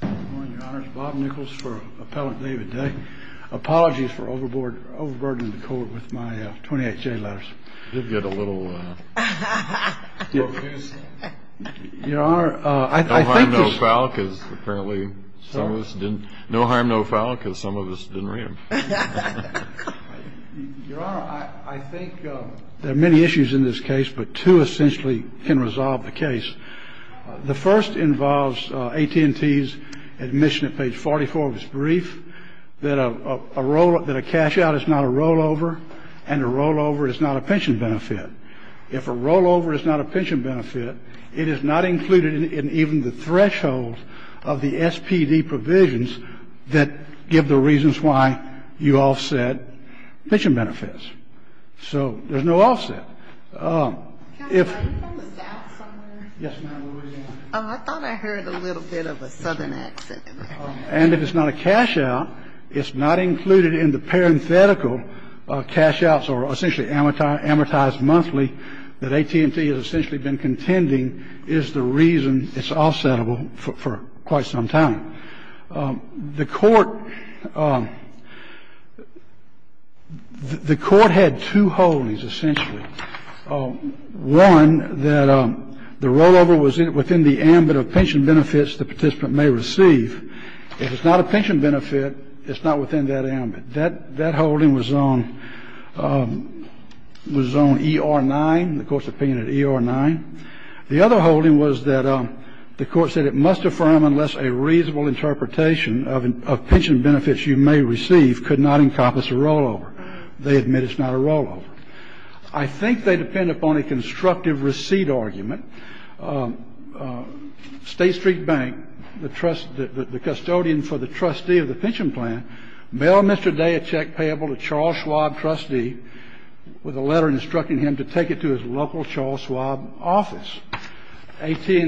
Good morning, Your Honor. It's Bob Nichols for Appellant David Day. Apologies for overburdening the Court with my 28 J letters. You did get a little, uh... Your Honor, I think... No harm, no foul, because apparently some of us didn't... No harm, no foul, because some of us didn't read them. Your Honor, I think there are many issues in this case, but two essentially can resolve the case. The first involves AT&T's admission at page 44 of its brief that a cash out is not a rollover, and a rollover is not a pension benefit. If a rollover is not a pension benefit, it is not included in even the threshold of the SPD provisions that give the reasons why you offset pension benefits. So there's no offset. If... Yes, ma'am. I thought I heard a little bit of a southern accent. And if it's not a cash out, it's not included in the parenthetical cash outs or essentially amortized monthly that AT&T has essentially been contending is the reason it's offsettable for quite some time. The court had two holdings, essentially. One, that the rollover was within the ambit of pension benefits the participant may receive. If it's not a pension benefit, it's not within that ambit. That holding was on ER-9, the Court's opinion at ER-9. The other holding was that the Court said it must affirm unless a reasonable interpretation of pension benefits you may receive could not encompass a rollover. They admit it's not a rollover. I think they depend upon a constructive receipt argument. State Street Bank, the custodian for the trustee of the pension plan, bailed Mr. Day a check payable to Charles Schwab, trustee, with a letter instructing him to take it to his local Charles Schwab office. AT&T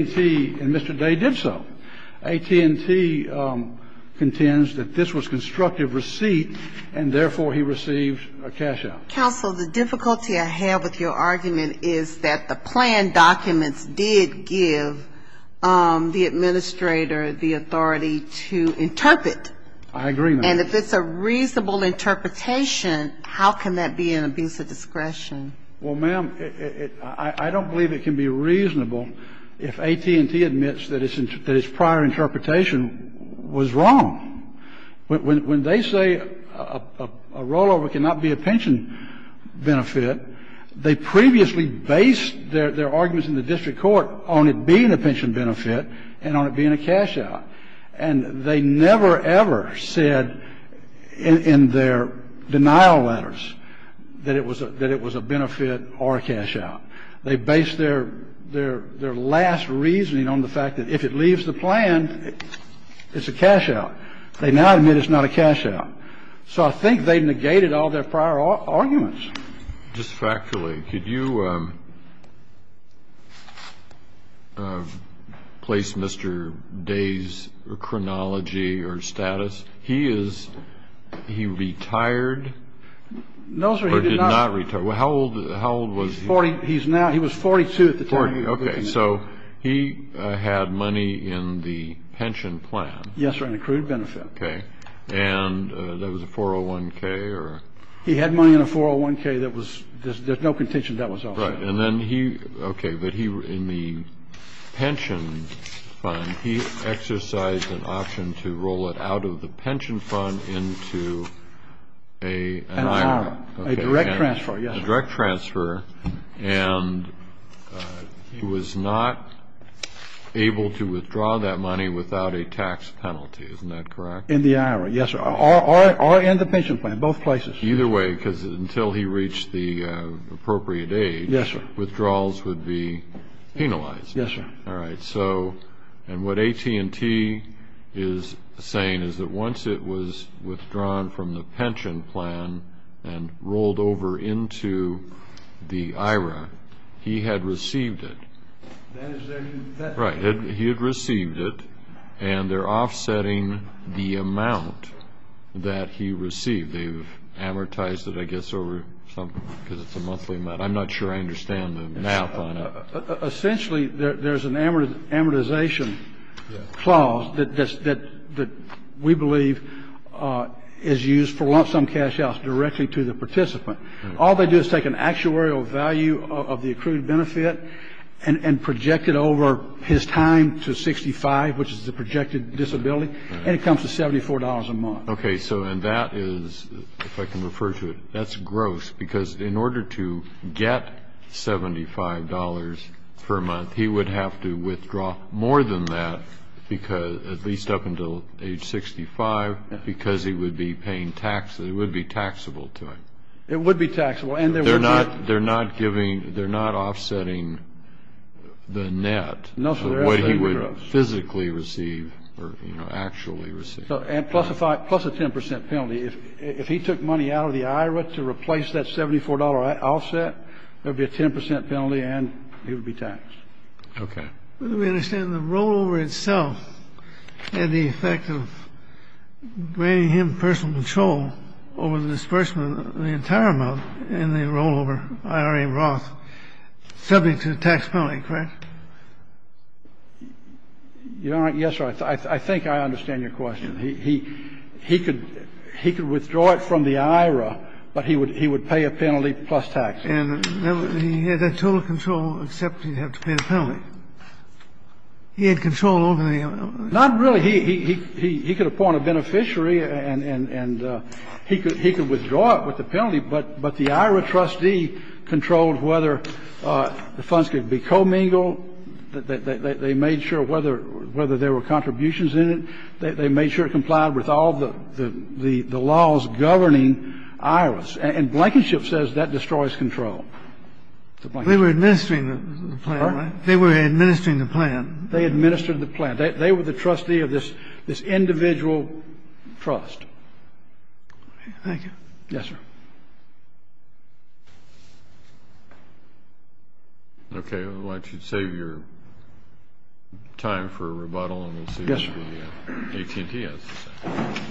and Mr. Day did so. AT&T contends that this was constructive receipt, and therefore he received a cash out. Counsel, the difficulty I have with your argument is that the plan documents did give the administrator the authority to interpret. I agree, ma'am. And if it's a reasonable interpretation, how can that be an abuse of discretion? Well, ma'am, I don't believe it can be reasonable if AT&T admits that its prior interpretation was wrong. When they say a rollover cannot be a pension benefit, they previously based their arguments in the district court on it being a pension benefit and on it being a cash out. And they never, ever said in their denial letters that it was a benefit or a cash out. They based their last reasoning on the fact that if it leaves the plan, it's a cash out. They now admit it's not a cash out. So I think they negated all their prior arguments. Just factually, could you place Mr. Day's chronology or status? He is he retired? No, sir. He did not retire. How old was he? He's now he was 42 at the time. Okay. So he had money in the pension plan. Yes, sir, an accrued benefit. Okay. And that was a 401k or? He had money in a 401k that was, there's no contention that was also. Right. And then he, okay. But he, in the pension fund, he exercised an option to roll it out of the pension fund into an IRA. An IRA. A direct transfer, yes, sir. A direct transfer. And he was not able to withdraw that money without a tax penalty. Isn't that correct? In the IRA, yes, sir. Or in the pension plan. In both places. Either way, because until he reached the appropriate age. Yes, sir. Withdrawals would be penalized. Yes, sir. All right. So, and what AT&T is saying is that once it was withdrawn from the pension plan and rolled over into the IRA, he had received it. That is their new. Right. He had received it and they're offsetting the amount that he received. They've amortized it, I guess, over some, because it's a monthly amount. I'm not sure I understand the math on it. Essentially, there's an amortization clause that we believe is used for lump sum cash outs directly to the participant. All they do is take an actuarial value of the accrued benefit and project it over his time to 65, which is the projected disability, and it comes to $74 a month. Okay. So and that is, if I can refer to it, that's gross, because in order to get $75 per month, he would have to withdraw more than that because, at least up until age 65, because he would be paying tax. It would be taxable to him. It would be taxable. And there would be. They're not giving, they're not offsetting the net. No, sir. What he would physically receive or, you know, actually receive. And plus a 10% penalty. If he took money out of the IRA to replace that $74 offset, there would be a 10% penalty and he would be taxed. Okay. We understand the rollover itself had the effect of granting him personal control over the disbursement of the entire amount in the rollover IRA Roth subject to a tax penalty, correct? Yes, sir. I think I understand your question. He could withdraw it from the IRA, but he would pay a penalty plus tax. And he had that total control except he'd have to pay the penalty. He had control over the IRA. Not really. He could appoint a beneficiary and he could withdraw it with the penalty. But the IRA trustee controlled whether the funds could be commingled. They made sure whether there were contributions in it. They made sure it complied with all the laws governing IRAs. And Blankenship says that destroys control. They were administering the plan, right? Pardon? They were administering the plan. They administered the plan. They were the trustee of this individual trust. Thank you. Yes, sir. Okay. I'd like to save your time for a rebuttal and we'll see what the AT&T has to say.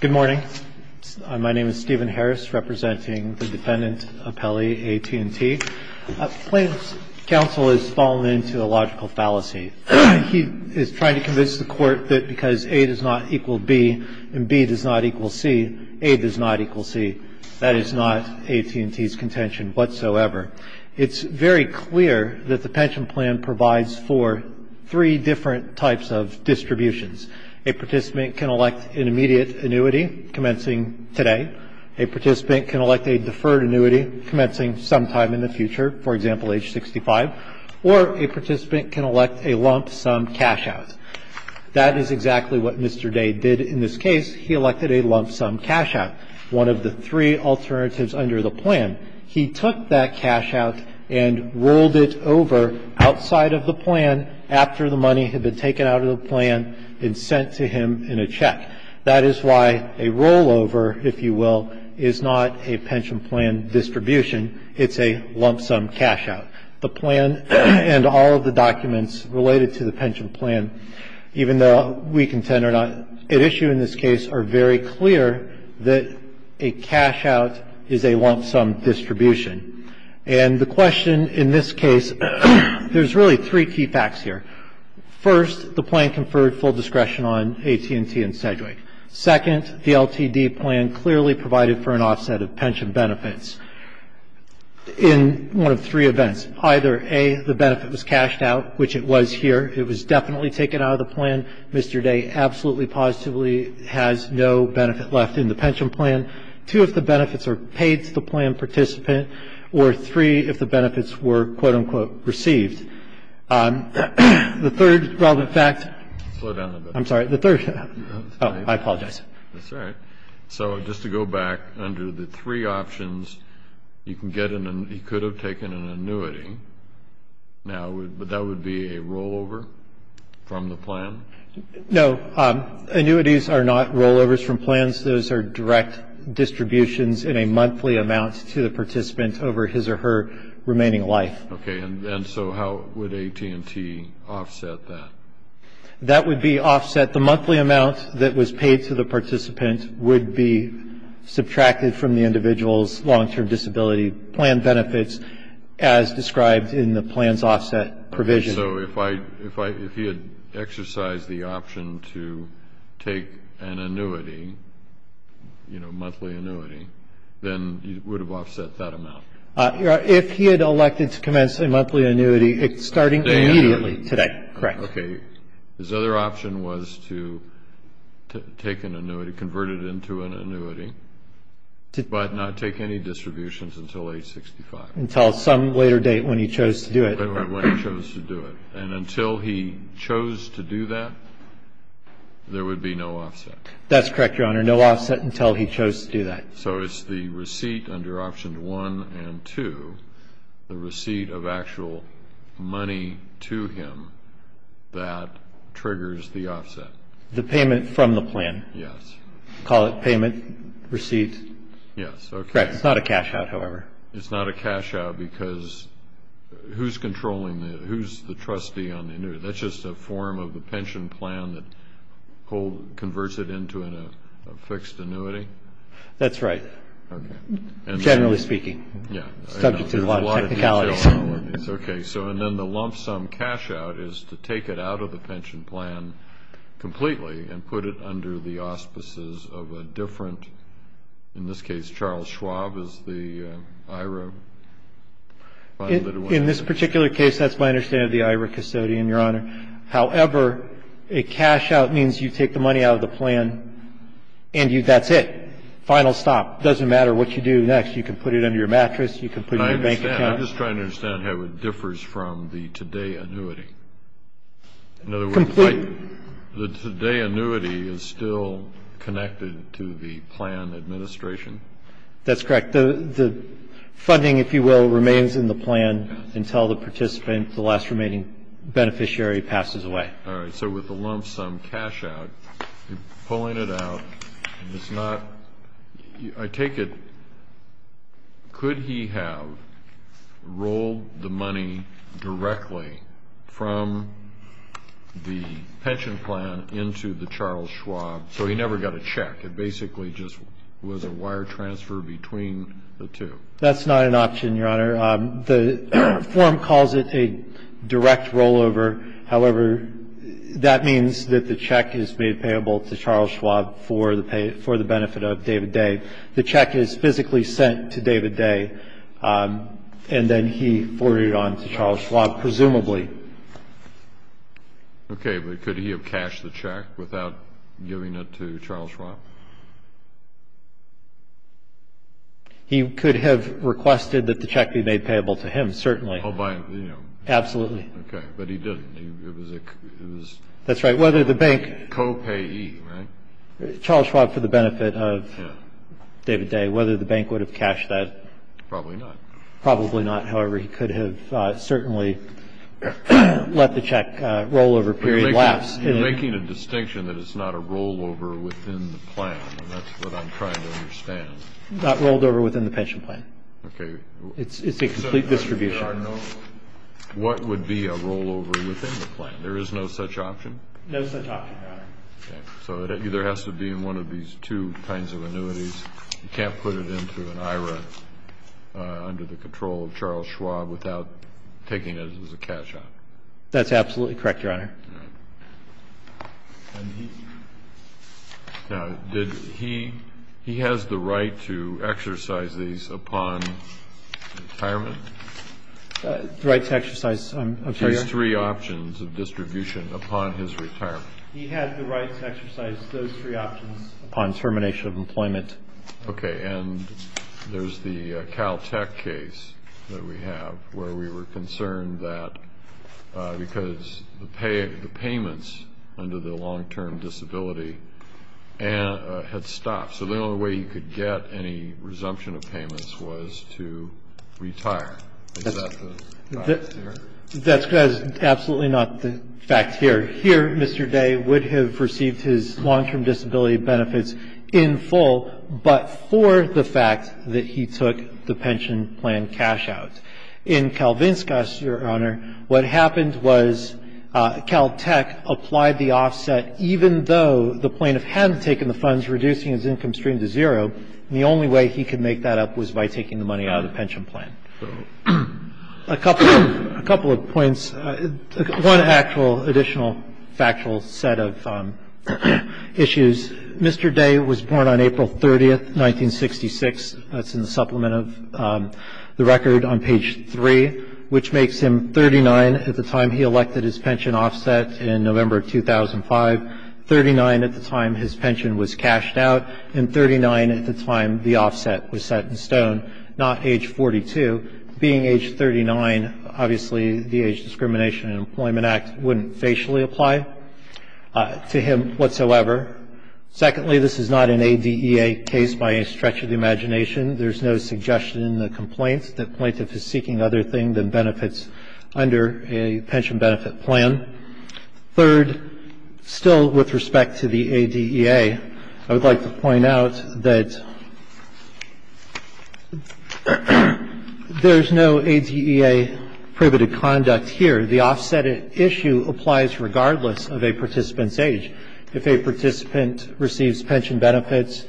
Good morning. Good morning. My name is Stephen Harris, representing the defendant, Appelli, AT&T. Plaintiff's counsel has fallen into a logical fallacy. He is trying to convince the Court that because A does not equal B and B does not equal C, A does not equal C. That is not AT&T's contention whatsoever. It's very clear that the pension plan provides for three different types of distributions. A participant can elect an immediate annuity commencing today. A participant can elect a deferred annuity commencing sometime in the future, for example, age 65. Or a participant can elect a lump sum cash out. That is exactly what Mr. Day did in this case. He elected a lump sum cash out, one of the three alternatives under the plan. He took that cash out and rolled it over outside of the plan after the money had been taken out of the plan and sent to him in a check. That is why a rollover, if you will, is not a pension plan distribution. It's a lump sum cash out. The plan and all of the documents related to the pension plan, even though we contend are not at issue in this case, are very clear that a cash out is a lump sum distribution. And the question in this case, there's really three key facts here. First, the plan conferred full discretion on AT&T and Sedgwick. Second, the LTD plan clearly provided for an offset of pension benefits. In one of three events, either, A, the benefit was cashed out, which it was here. It was definitely taken out of the plan. Mr. Day absolutely positively has no benefit left in the pension plan. Two, if the benefits are paid to the plan participant. Or three, if the benefits were, quote, unquote, received. The third relevant fact. I'm sorry. The third. I apologize. That's all right. So just to go back under the three options, you can get an, he could have taken an annuity. Now, but that would be a rollover from the plan? No. Annuities are not rollovers from plans. Those are direct distributions in a monthly amount to the participant over his or her remaining life. Okay. And so how would AT&T offset that? That would be offset. The monthly amount that was paid to the participant would be subtracted from the individual's long-term disability plan benefits, as described in the plans offset provision. So if I, if he had exercised the option to take an annuity, you know, monthly annuity, then it would have offset that amount? If he had elected to commence a monthly annuity, it's starting immediately today. Correct. Okay. His other option was to take an annuity, convert it into an annuity, but not take any distributions until age 65. Until some later date when he chose to do it. When he chose to do it. And until he chose to do that, there would be no offset. That's correct, Your Honor. No offset until he chose to do that. So it's the receipt under option one and two, the receipt of actual money to him that triggers the offset. The payment from the plan. Yes. Call it payment, receipt. Yes. Correct. It's not a cash-out, however. It's not a cash-out because who's controlling the, who's the trustee on the annuity? That's just a form of the pension plan that converts it into a fixed annuity? That's right. Okay. Generally speaking. Yeah. Subject to a lot of technicalities. Okay. So and then the lump sum cash-out is to take it out of the pension plan completely and put it under the auspices of a different, in this case, Charles Schwab is the IRA. In this particular case, that's my understanding of the IRA custodian, Your Honor. However, a cash-out means you take the money out of the plan and you, that's it. Final stop. It doesn't matter what you do next. You can put it under your mattress. You can put it in your bank account. I understand. I'm just trying to understand how it differs from the today annuity. Completely. In other words, the today annuity is still connected to the plan administration? That's correct. The funding, if you will, remains in the plan until the participant, the last remaining beneficiary passes away. All right. So with the lump sum cash-out, pulling it out, it's not, I take it, could he have rolled the money directly from the pension plan into the Charles Schwab so he never got a check? It basically just was a wire transfer between the two. That's not an option, Your Honor. The form calls it a direct rollover. However, that means that the check is made payable to Charles Schwab for the benefit of David Day. The check is physically sent to David Day, and then he forwarded it on to Charles Schwab, presumably. Okay. But could he have cashed the check without giving it to Charles Schwab? He could have requested that the check be made payable to him, certainly. Oh, by, you know. Absolutely. Okay. But he didn't. It was a copayee, right? Charles Schwab for the benefit of David Day. Whether the bank would have cashed that. Probably not. Probably not. However, he could have certainly let the check rollover period last. You're making a distinction that it's not a rollover within the plan, and that's what I'm trying to understand. Not rolled over within the pension plan. Okay. It's a complete distribution. What would be a rollover within the plan? There is no such option? No such option, Your Honor. Okay. So it either has to be in one of these two kinds of annuities. You can't put it into an IRA under the control of Charles Schwab without taking it as a cash-out. That's absolutely correct, Your Honor. All right. Now, did he he has the right to exercise these upon retirement? The right to exercise, I'm sorry, Your Honor? His three options of distribution upon his retirement. He had the right to exercise those three options upon termination of employment. Okay. And there's the Caltech case that we have where we were concerned that because the payments under the long-term disability had stopped. So the only way you could get any resumption of payments was to retire. Is that the fact here? That's absolutely not the fact here. Here, Mr. Day would have received his long-term disability benefits in full, but for the fact that he took the pension plan cash-out. In Kalvinskas, Your Honor, what happened was Caltech applied the offset even though the plaintiff hadn't taken the funds, reducing his income stream to zero, and the only way he could make that up was by taking the money out of the pension plan. A couple of points. One actual additional factual set of issues. Mr. Day was born on April 30th, 1966. That's in the supplement of the record on page 3, which makes him 39 at the time he elected his pension offset in November of 2005, 39 at the time his pension was cashed out, and 39 at the time the offset was set in stone, not age 42. Being age 39, obviously, the Age Discrimination in Employment Act wouldn't facially apply to him whatsoever. Secondly, this is not an ADEA case by any stretch of the imagination. There's no suggestion in the complaint that the plaintiff is seeking other things than benefits under a pension benefit plan. Third, still with respect to the ADEA, I would like to point out that there's no ADEA prohibited conduct here. The offset issue applies regardless of a participant's age. If a participant receives pension benefits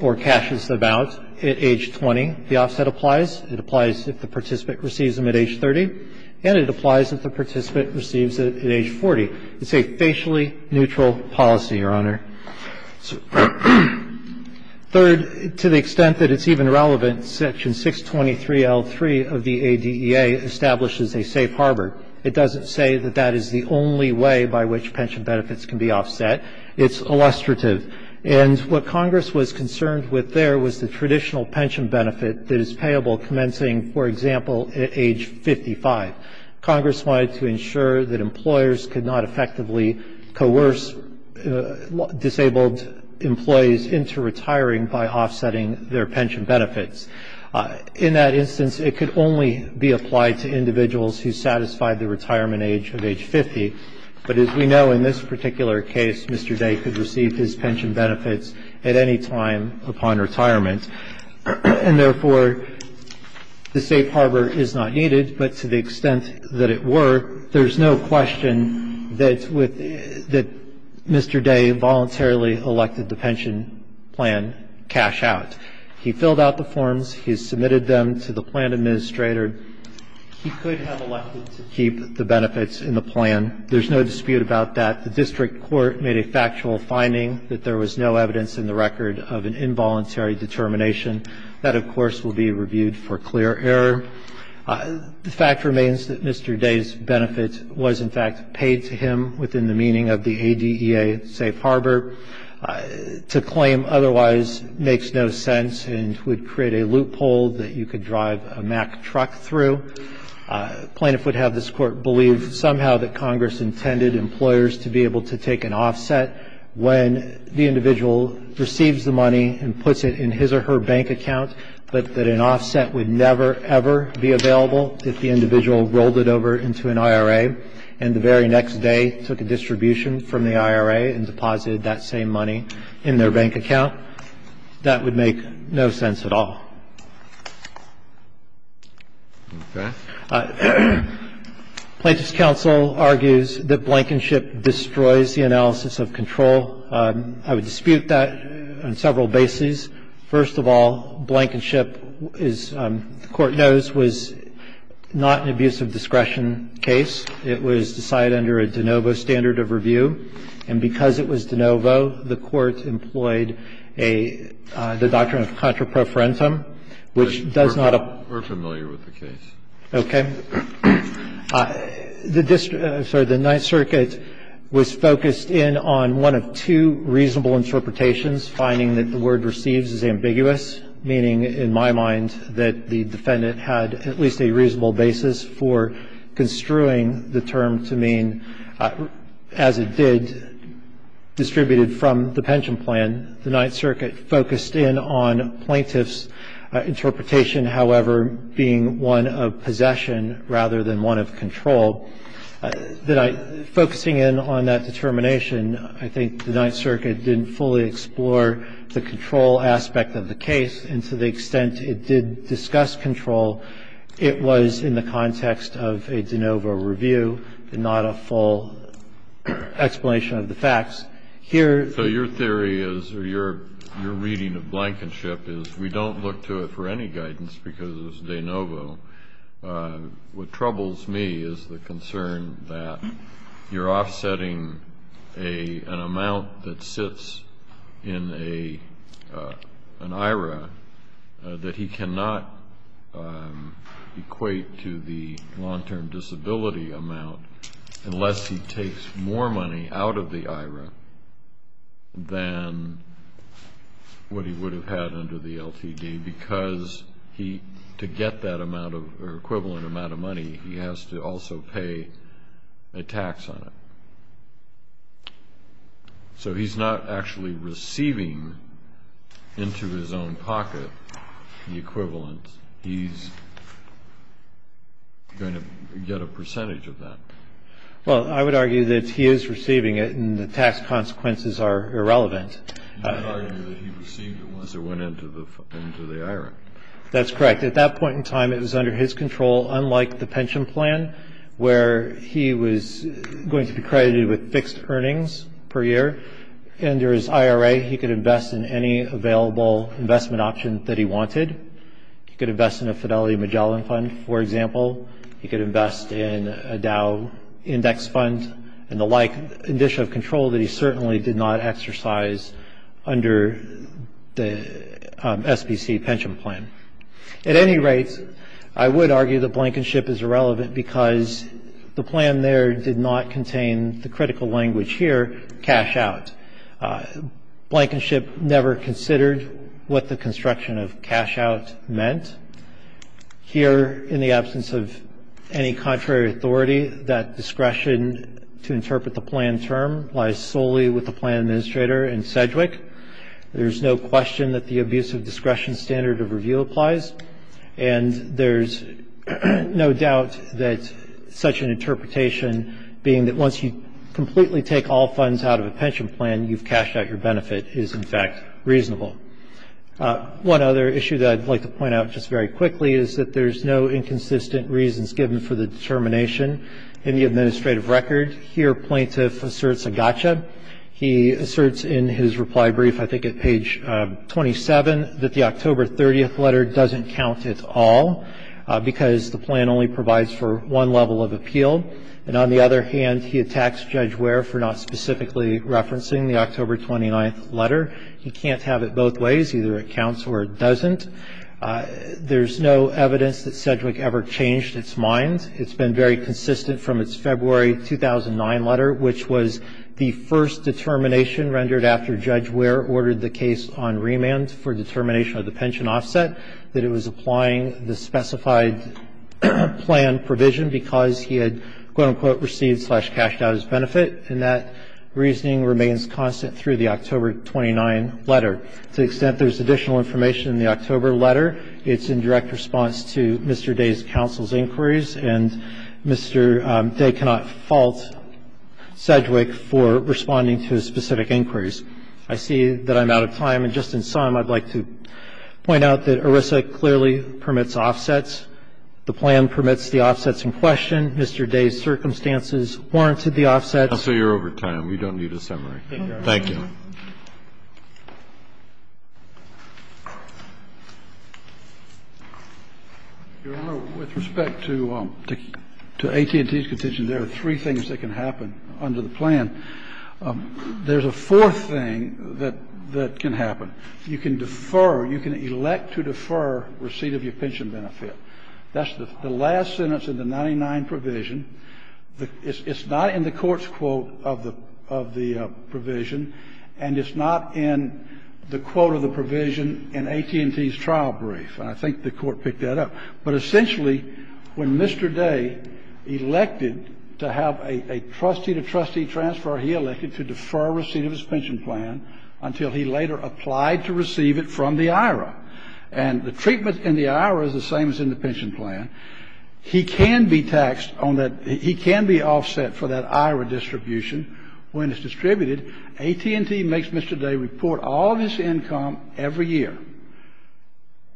or cashes them out at age 20, the offset applies. It applies if the participant receives them at age 30, and it applies if the participant receives it at age 40. It's a facially neutral policy, Your Honor. Third, to the extent that it's even relevant, Section 623L3 of the ADEA establishes a safe harbor. It doesn't say that that is the only way by which pension benefits can be offset. It's illustrative. And what Congress was concerned with there was the traditional pension benefit that is payable commencing, for example, at age 55. Congress wanted to ensure that employers could not effectively coerce disabled employees into retiring by offsetting their pension benefits. In that instance, it could only be applied to individuals who satisfied the retirement age of age 50. But as we know, in this particular case, Mr. Day could receive his pension benefits at any time upon retirement. And, therefore, the safe harbor is not needed. But to the extent that it were, there's no question that Mr. Day voluntarily elected the pension plan cash out. He filled out the forms. He submitted them to the plan administrator. He could have elected to keep the benefits in the plan. There's no dispute about that. The district court made a factual finding that there was no evidence in the record of an involuntary determination. That, of course, will be reviewed for clear error. The fact remains that Mr. Day's benefit was, in fact, paid to him within the meaning of the ADEA safe harbor. To claim otherwise makes no sense and would create a loophole that you could drive a Mack truck through. A plaintiff would have this Court believe somehow that Congress intended employers to be able to take an offset when the individual receives the money and puts it in his or her bank account, but that an offset would never, ever be available if the individual rolled it over into an IRA and the very next day took a distribution from the IRA and deposited that same money in their bank account. That would make no sense at all. Plaintiff's counsel argues that blankenship destroys the analysis of control. I would dispute that on several bases. First of all, blankenship is, the Court knows, was not an abuse of discretion case. It was decided under a de novo standard of review. And because it was de novo, the Court employed a, the doctrine of contraprofrentum, which does not apply. We're familiar with the case. Okay. The district, sorry, the Ninth Circuit was focused in on one of two reasonable interpretations, finding that the word receives is ambiguous, meaning, in my mind, that the defendant had at least a reasonable basis for construing the term to mean, as it did, distributed from the pension plan. The Ninth Circuit focused in on plaintiff's interpretation, however, being one of possession rather than one of control. Focusing in on that determination, I think the Ninth Circuit didn't fully explore the control aspect of the case. And to the extent it did discuss control, it was in the context of a de novo review and not a full explanation of the facts. Here the ---- So your theory is, or your reading of blankenship is, we don't look to it for any guidance because it's de novo. What troubles me is the concern that you're offsetting an amount that sits in an IRA that he cannot equate to the long-term disability amount unless he takes more money out of the IRA than what he would have had under the LTD because he, to get that amount of, or equivalent amount of money, he has to also pay a tax on it. So he's not actually receiving into his own pocket the equivalent. He's going to get a percentage of that. Well, I would argue that he is receiving it, and the tax consequences are irrelevant. You would argue that he received it once it went into the IRA. That's correct. At that point in time, it was under his control, unlike the pension plan, where he was going to be credited with fixed earnings per year. Under his IRA, he could invest in any available investment option that he wanted. He could invest in a Fidelity Magellan Fund, for example. He could invest in a Dow Index Fund, and the like, an issue of control that he certainly did not exercise under the SBC pension plan. At any rate, I would argue that blankenship is irrelevant because the plan there did not contain the critical language here, cash out. Blankenship never considered what the construction of cash out meant. Here, in the absence of any contrary authority, that discretion to interpret the plan term lies solely with the plan administrator and SEDWIC. There's no question that the abuse of discretion standard of review applies. And there's no doubt that such an interpretation, being that once you completely take all funds out of a pension plan, you've cashed out your benefit, is, in fact, reasonable. One other issue that I'd like to point out just very quickly is that there's no inconsistent reasons given for the determination in the administrative record. Here, plaintiff asserts a gotcha. He asserts in his reply brief, I think at page 27, that the October 30th letter doesn't count at all because the plan only provides for one level of appeal. And on the other hand, he attacks Judge Ware for not specifically referencing the October 29th letter. He can't have it both ways. Either it counts or it doesn't. There's no evidence that SEDWIC ever changed its mind. The reason for that is that it's been very consistent from its February 2009 letter, which was the first determination rendered after Judge Ware ordered the case on remand for determination of the pension offset, that it was applying the specified plan provision because he had, quote, unquote, received, slash, cashed out his benefit. And that reasoning remains constant through the October 29 letter. To the extent there's additional information in the October letter, it's in direct response to Mr. Day's counsel's inquiries, and Mr. Day cannot fault SEDWIC for responding to his specific inquiries. I see that I'm out of time, and just in sum, I'd like to point out that ERISA clearly permits offsets. The plan permits the offsets in question. Mr. Day's circumstances warranted the offsets. Kennedy, I'm sorry, you're over time. We don't need a summary. Thank you. Your Honor, with respect to AT&T's contention, there are three things that can happen under the plan. There's a fourth thing that can happen. You can defer, you can elect to defer receipt of your pension benefit. That's the last sentence in the 99 provision. It's not in the court's quote of the provision. And it's not in the quote of the provision in AT&T's trial brief. And I think the Court picked that up. But essentially, when Mr. Day elected to have a trustee-to-trustee transfer, he elected to defer receipt of his pension plan until he later applied to receive it from the IRA. And the treatment in the IRA is the same as in the pension plan. He can be taxed on that. He can be offset for that IRA distribution. When it's distributed, AT&T makes Mr. Day report all of his income every year.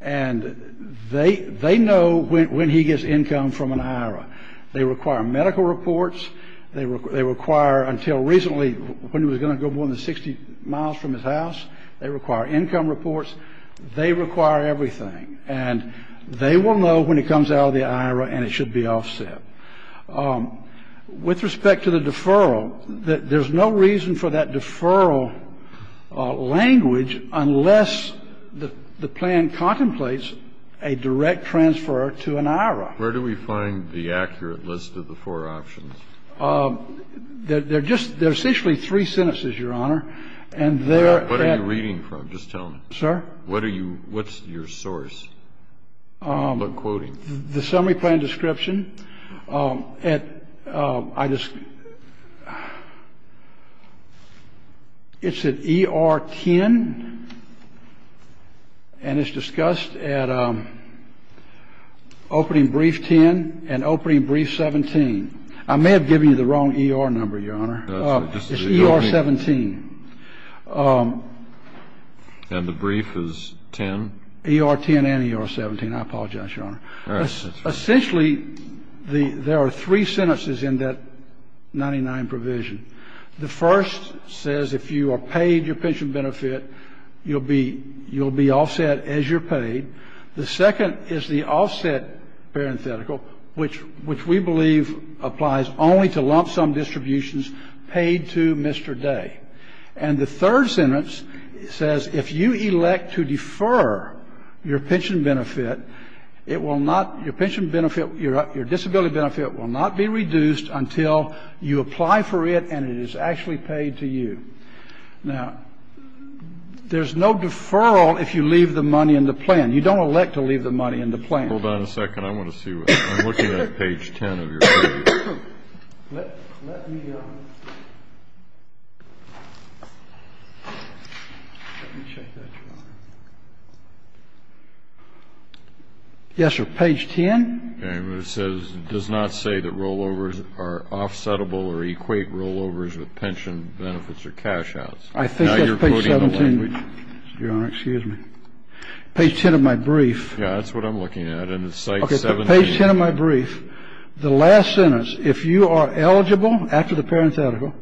And they know when he gets income from an IRA. They require medical reports. They require, until recently, when he was going to go more than 60 miles from his house, they require income reports. They require everything. And they will know when it comes out of the IRA and it should be offset. With respect to the deferral, there's no reason for that deferral language unless the plan contemplates a direct transfer to an IRA. Kennedy. Where do we find the accurate list of the four options? They're just three sentences, Your Honor. And they're at the What are you reading from? Just tell me. Sir? What are you, what's your source? The summary plan description. It's at ER 10. And it's discussed at opening brief 10 and opening brief 17. I may have given you the wrong ER number, Your Honor. It's ER 17. And the brief is 10? I apologize, Your Honor. Essentially, there are three sentences in that 99 provision. The first says if you are paid your pension benefit, you'll be offset as you're paid. The second is the offset parenthetical, which we believe applies only to lump sum distributions paid to Mr. Day. And the third sentence says if you elect to defer your pension benefit, it will not, your pension benefit, your disability benefit will not be reduced until you apply for it and it is actually paid to you. Now, there's no deferral if you leave the money in the plan. You don't elect to leave the money in the plan. Hold on a second. I want to see what, I'm looking at page 10 of your brief. Let me check that, Your Honor. Yes, sir. Page 10? It says it does not say that rollovers are offsettable or equate rollovers with pension benefits or cash outs. I think that's page 17. Now you're quoting the language. Your Honor, excuse me. Page 10 of my brief. Yeah, that's what I'm looking at. And it's site 17. Page 10 of my brief, the last sentence, if you are eligible, after the parenthetical,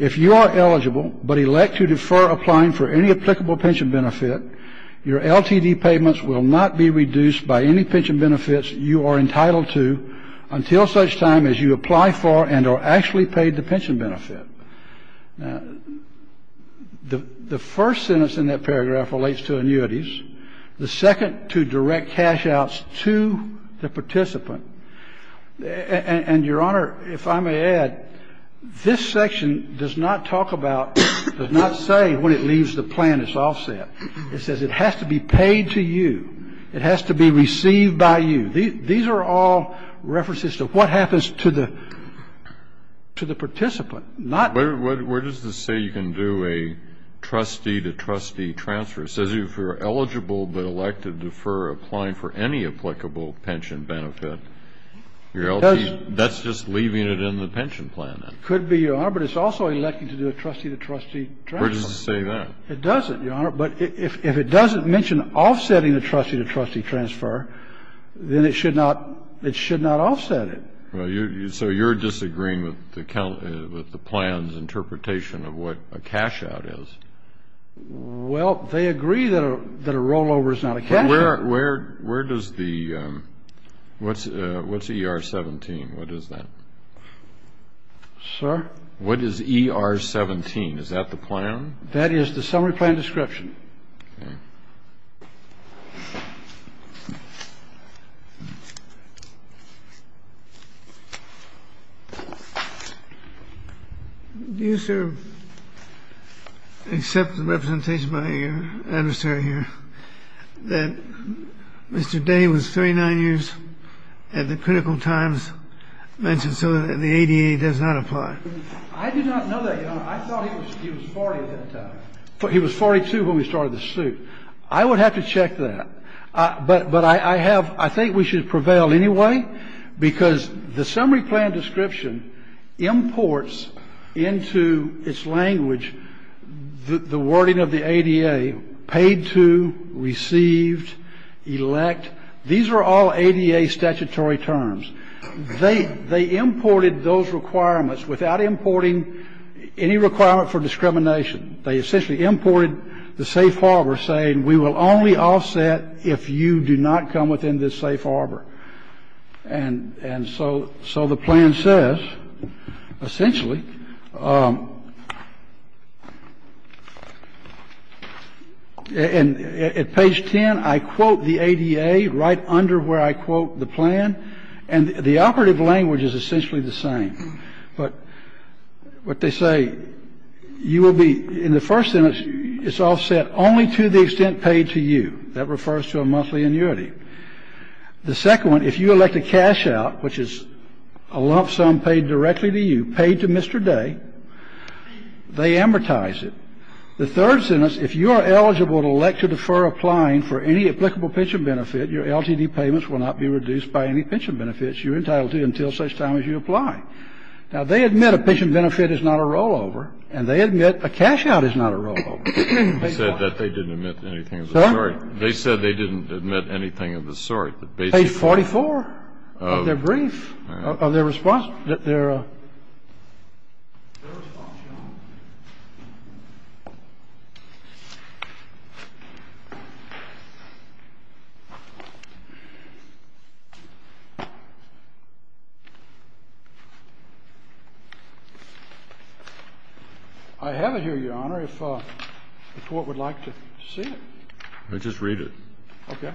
if you are eligible but elect to defer applying for any applicable pension benefit, your LTD payments will not be reduced by any pension benefits you are entitled to until such time as you apply for and are actually paid the pension benefit. It says it does not say that rollovers are offsettable or equate rollovers with pension benefits or cash outs. The second to direct cash outs to the participant. And, Your Honor, if I may add, this section does not talk about, does not say when it leaves the plan it's offset. It says it has to be paid to you. It has to be received by you. These are all references to what happens to the participant. Where does this say you can do a trustee-to-trustee transfer? It says if you are eligible but elect to defer applying for any applicable pension benefit, your LTD That's just leaving it in the pension plan then. Could be, Your Honor, but it's also electing to do a trustee-to-trustee transfer. Where does it say that? It doesn't, Your Honor. But if it doesn't mention offsetting the trustee-to-trustee transfer, then it should not, it should not offset it. So you're disagreeing with the plan's interpretation of what a cash out is? Well, they agree that a rollover is not a cash out. Where does the, what's ER 17? What is that? Sir? What is ER 17? Is that the plan? That is the summary plan description. Do you, sir, accept the representation by your adversary here that Mr. Day was 39 years at the critical times mentioned so that the ADA does not apply? I do not know that, Your Honor. I thought he was 40 at that time. He was 42 when we started the suit. I would have to check that. But I have, I think we should prevail anyway, because the summary plan description imports into its language the wording of the ADA, paid to, received, elect. These are all ADA statutory terms. They, they imported those requirements without importing any requirement for discrimination. They essentially imported the safe harbor, saying we will only offset if you do not come within this safe harbor. And, and so, so the plan says, essentially, and at page 10, I quote the ADA right under where I quote the plan. And the operative language is essentially the same. But what they say, you will be, in the first sentence, it's offset only to the extent paid to you. That refers to a monthly annuity. The second one, if you elect a cashout, which is a lump sum paid directly to you, paid to Mr. Day, they amortize it. The third sentence, if you are eligible to elect to defer applying for any applicable pension benefit, your LTD payments will not be reduced by any pension benefits you're entitled to until such time as you apply. Now, they admit a pension benefit is not a rollover, and they admit a cashout is not a rollover. They said that they didn't admit anything of the sort. They said they didn't admit anything of the sort. Page 44 of their brief, of their response. I have it here, Your Honor, if the Court would like to see it. Just read it. Okay.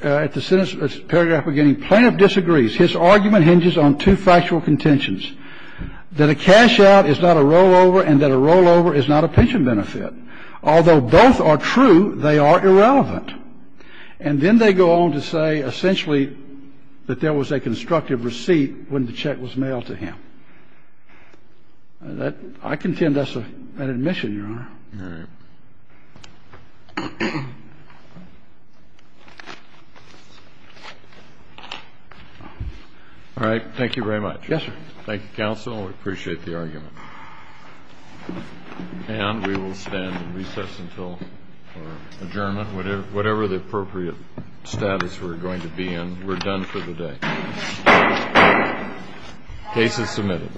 At the sentence, paragraph beginning, plaintiff disagrees. His argument hinges on two factual contentions, that a cashout is not a rollover and that a rollover is not a pension benefit. Although both are true, they are irrelevant. And then they go on to say, essentially, that there was a constructive receipt when the check was mailed to him. I contend that's an admission, Your Honor. All right. All right. Thank you very much. Yes, sir. Thank you, counsel. We appreciate the argument. And we will stand in recess until adjournment. Whatever the appropriate status we're going to be in, we're done for the day. Case is submitted.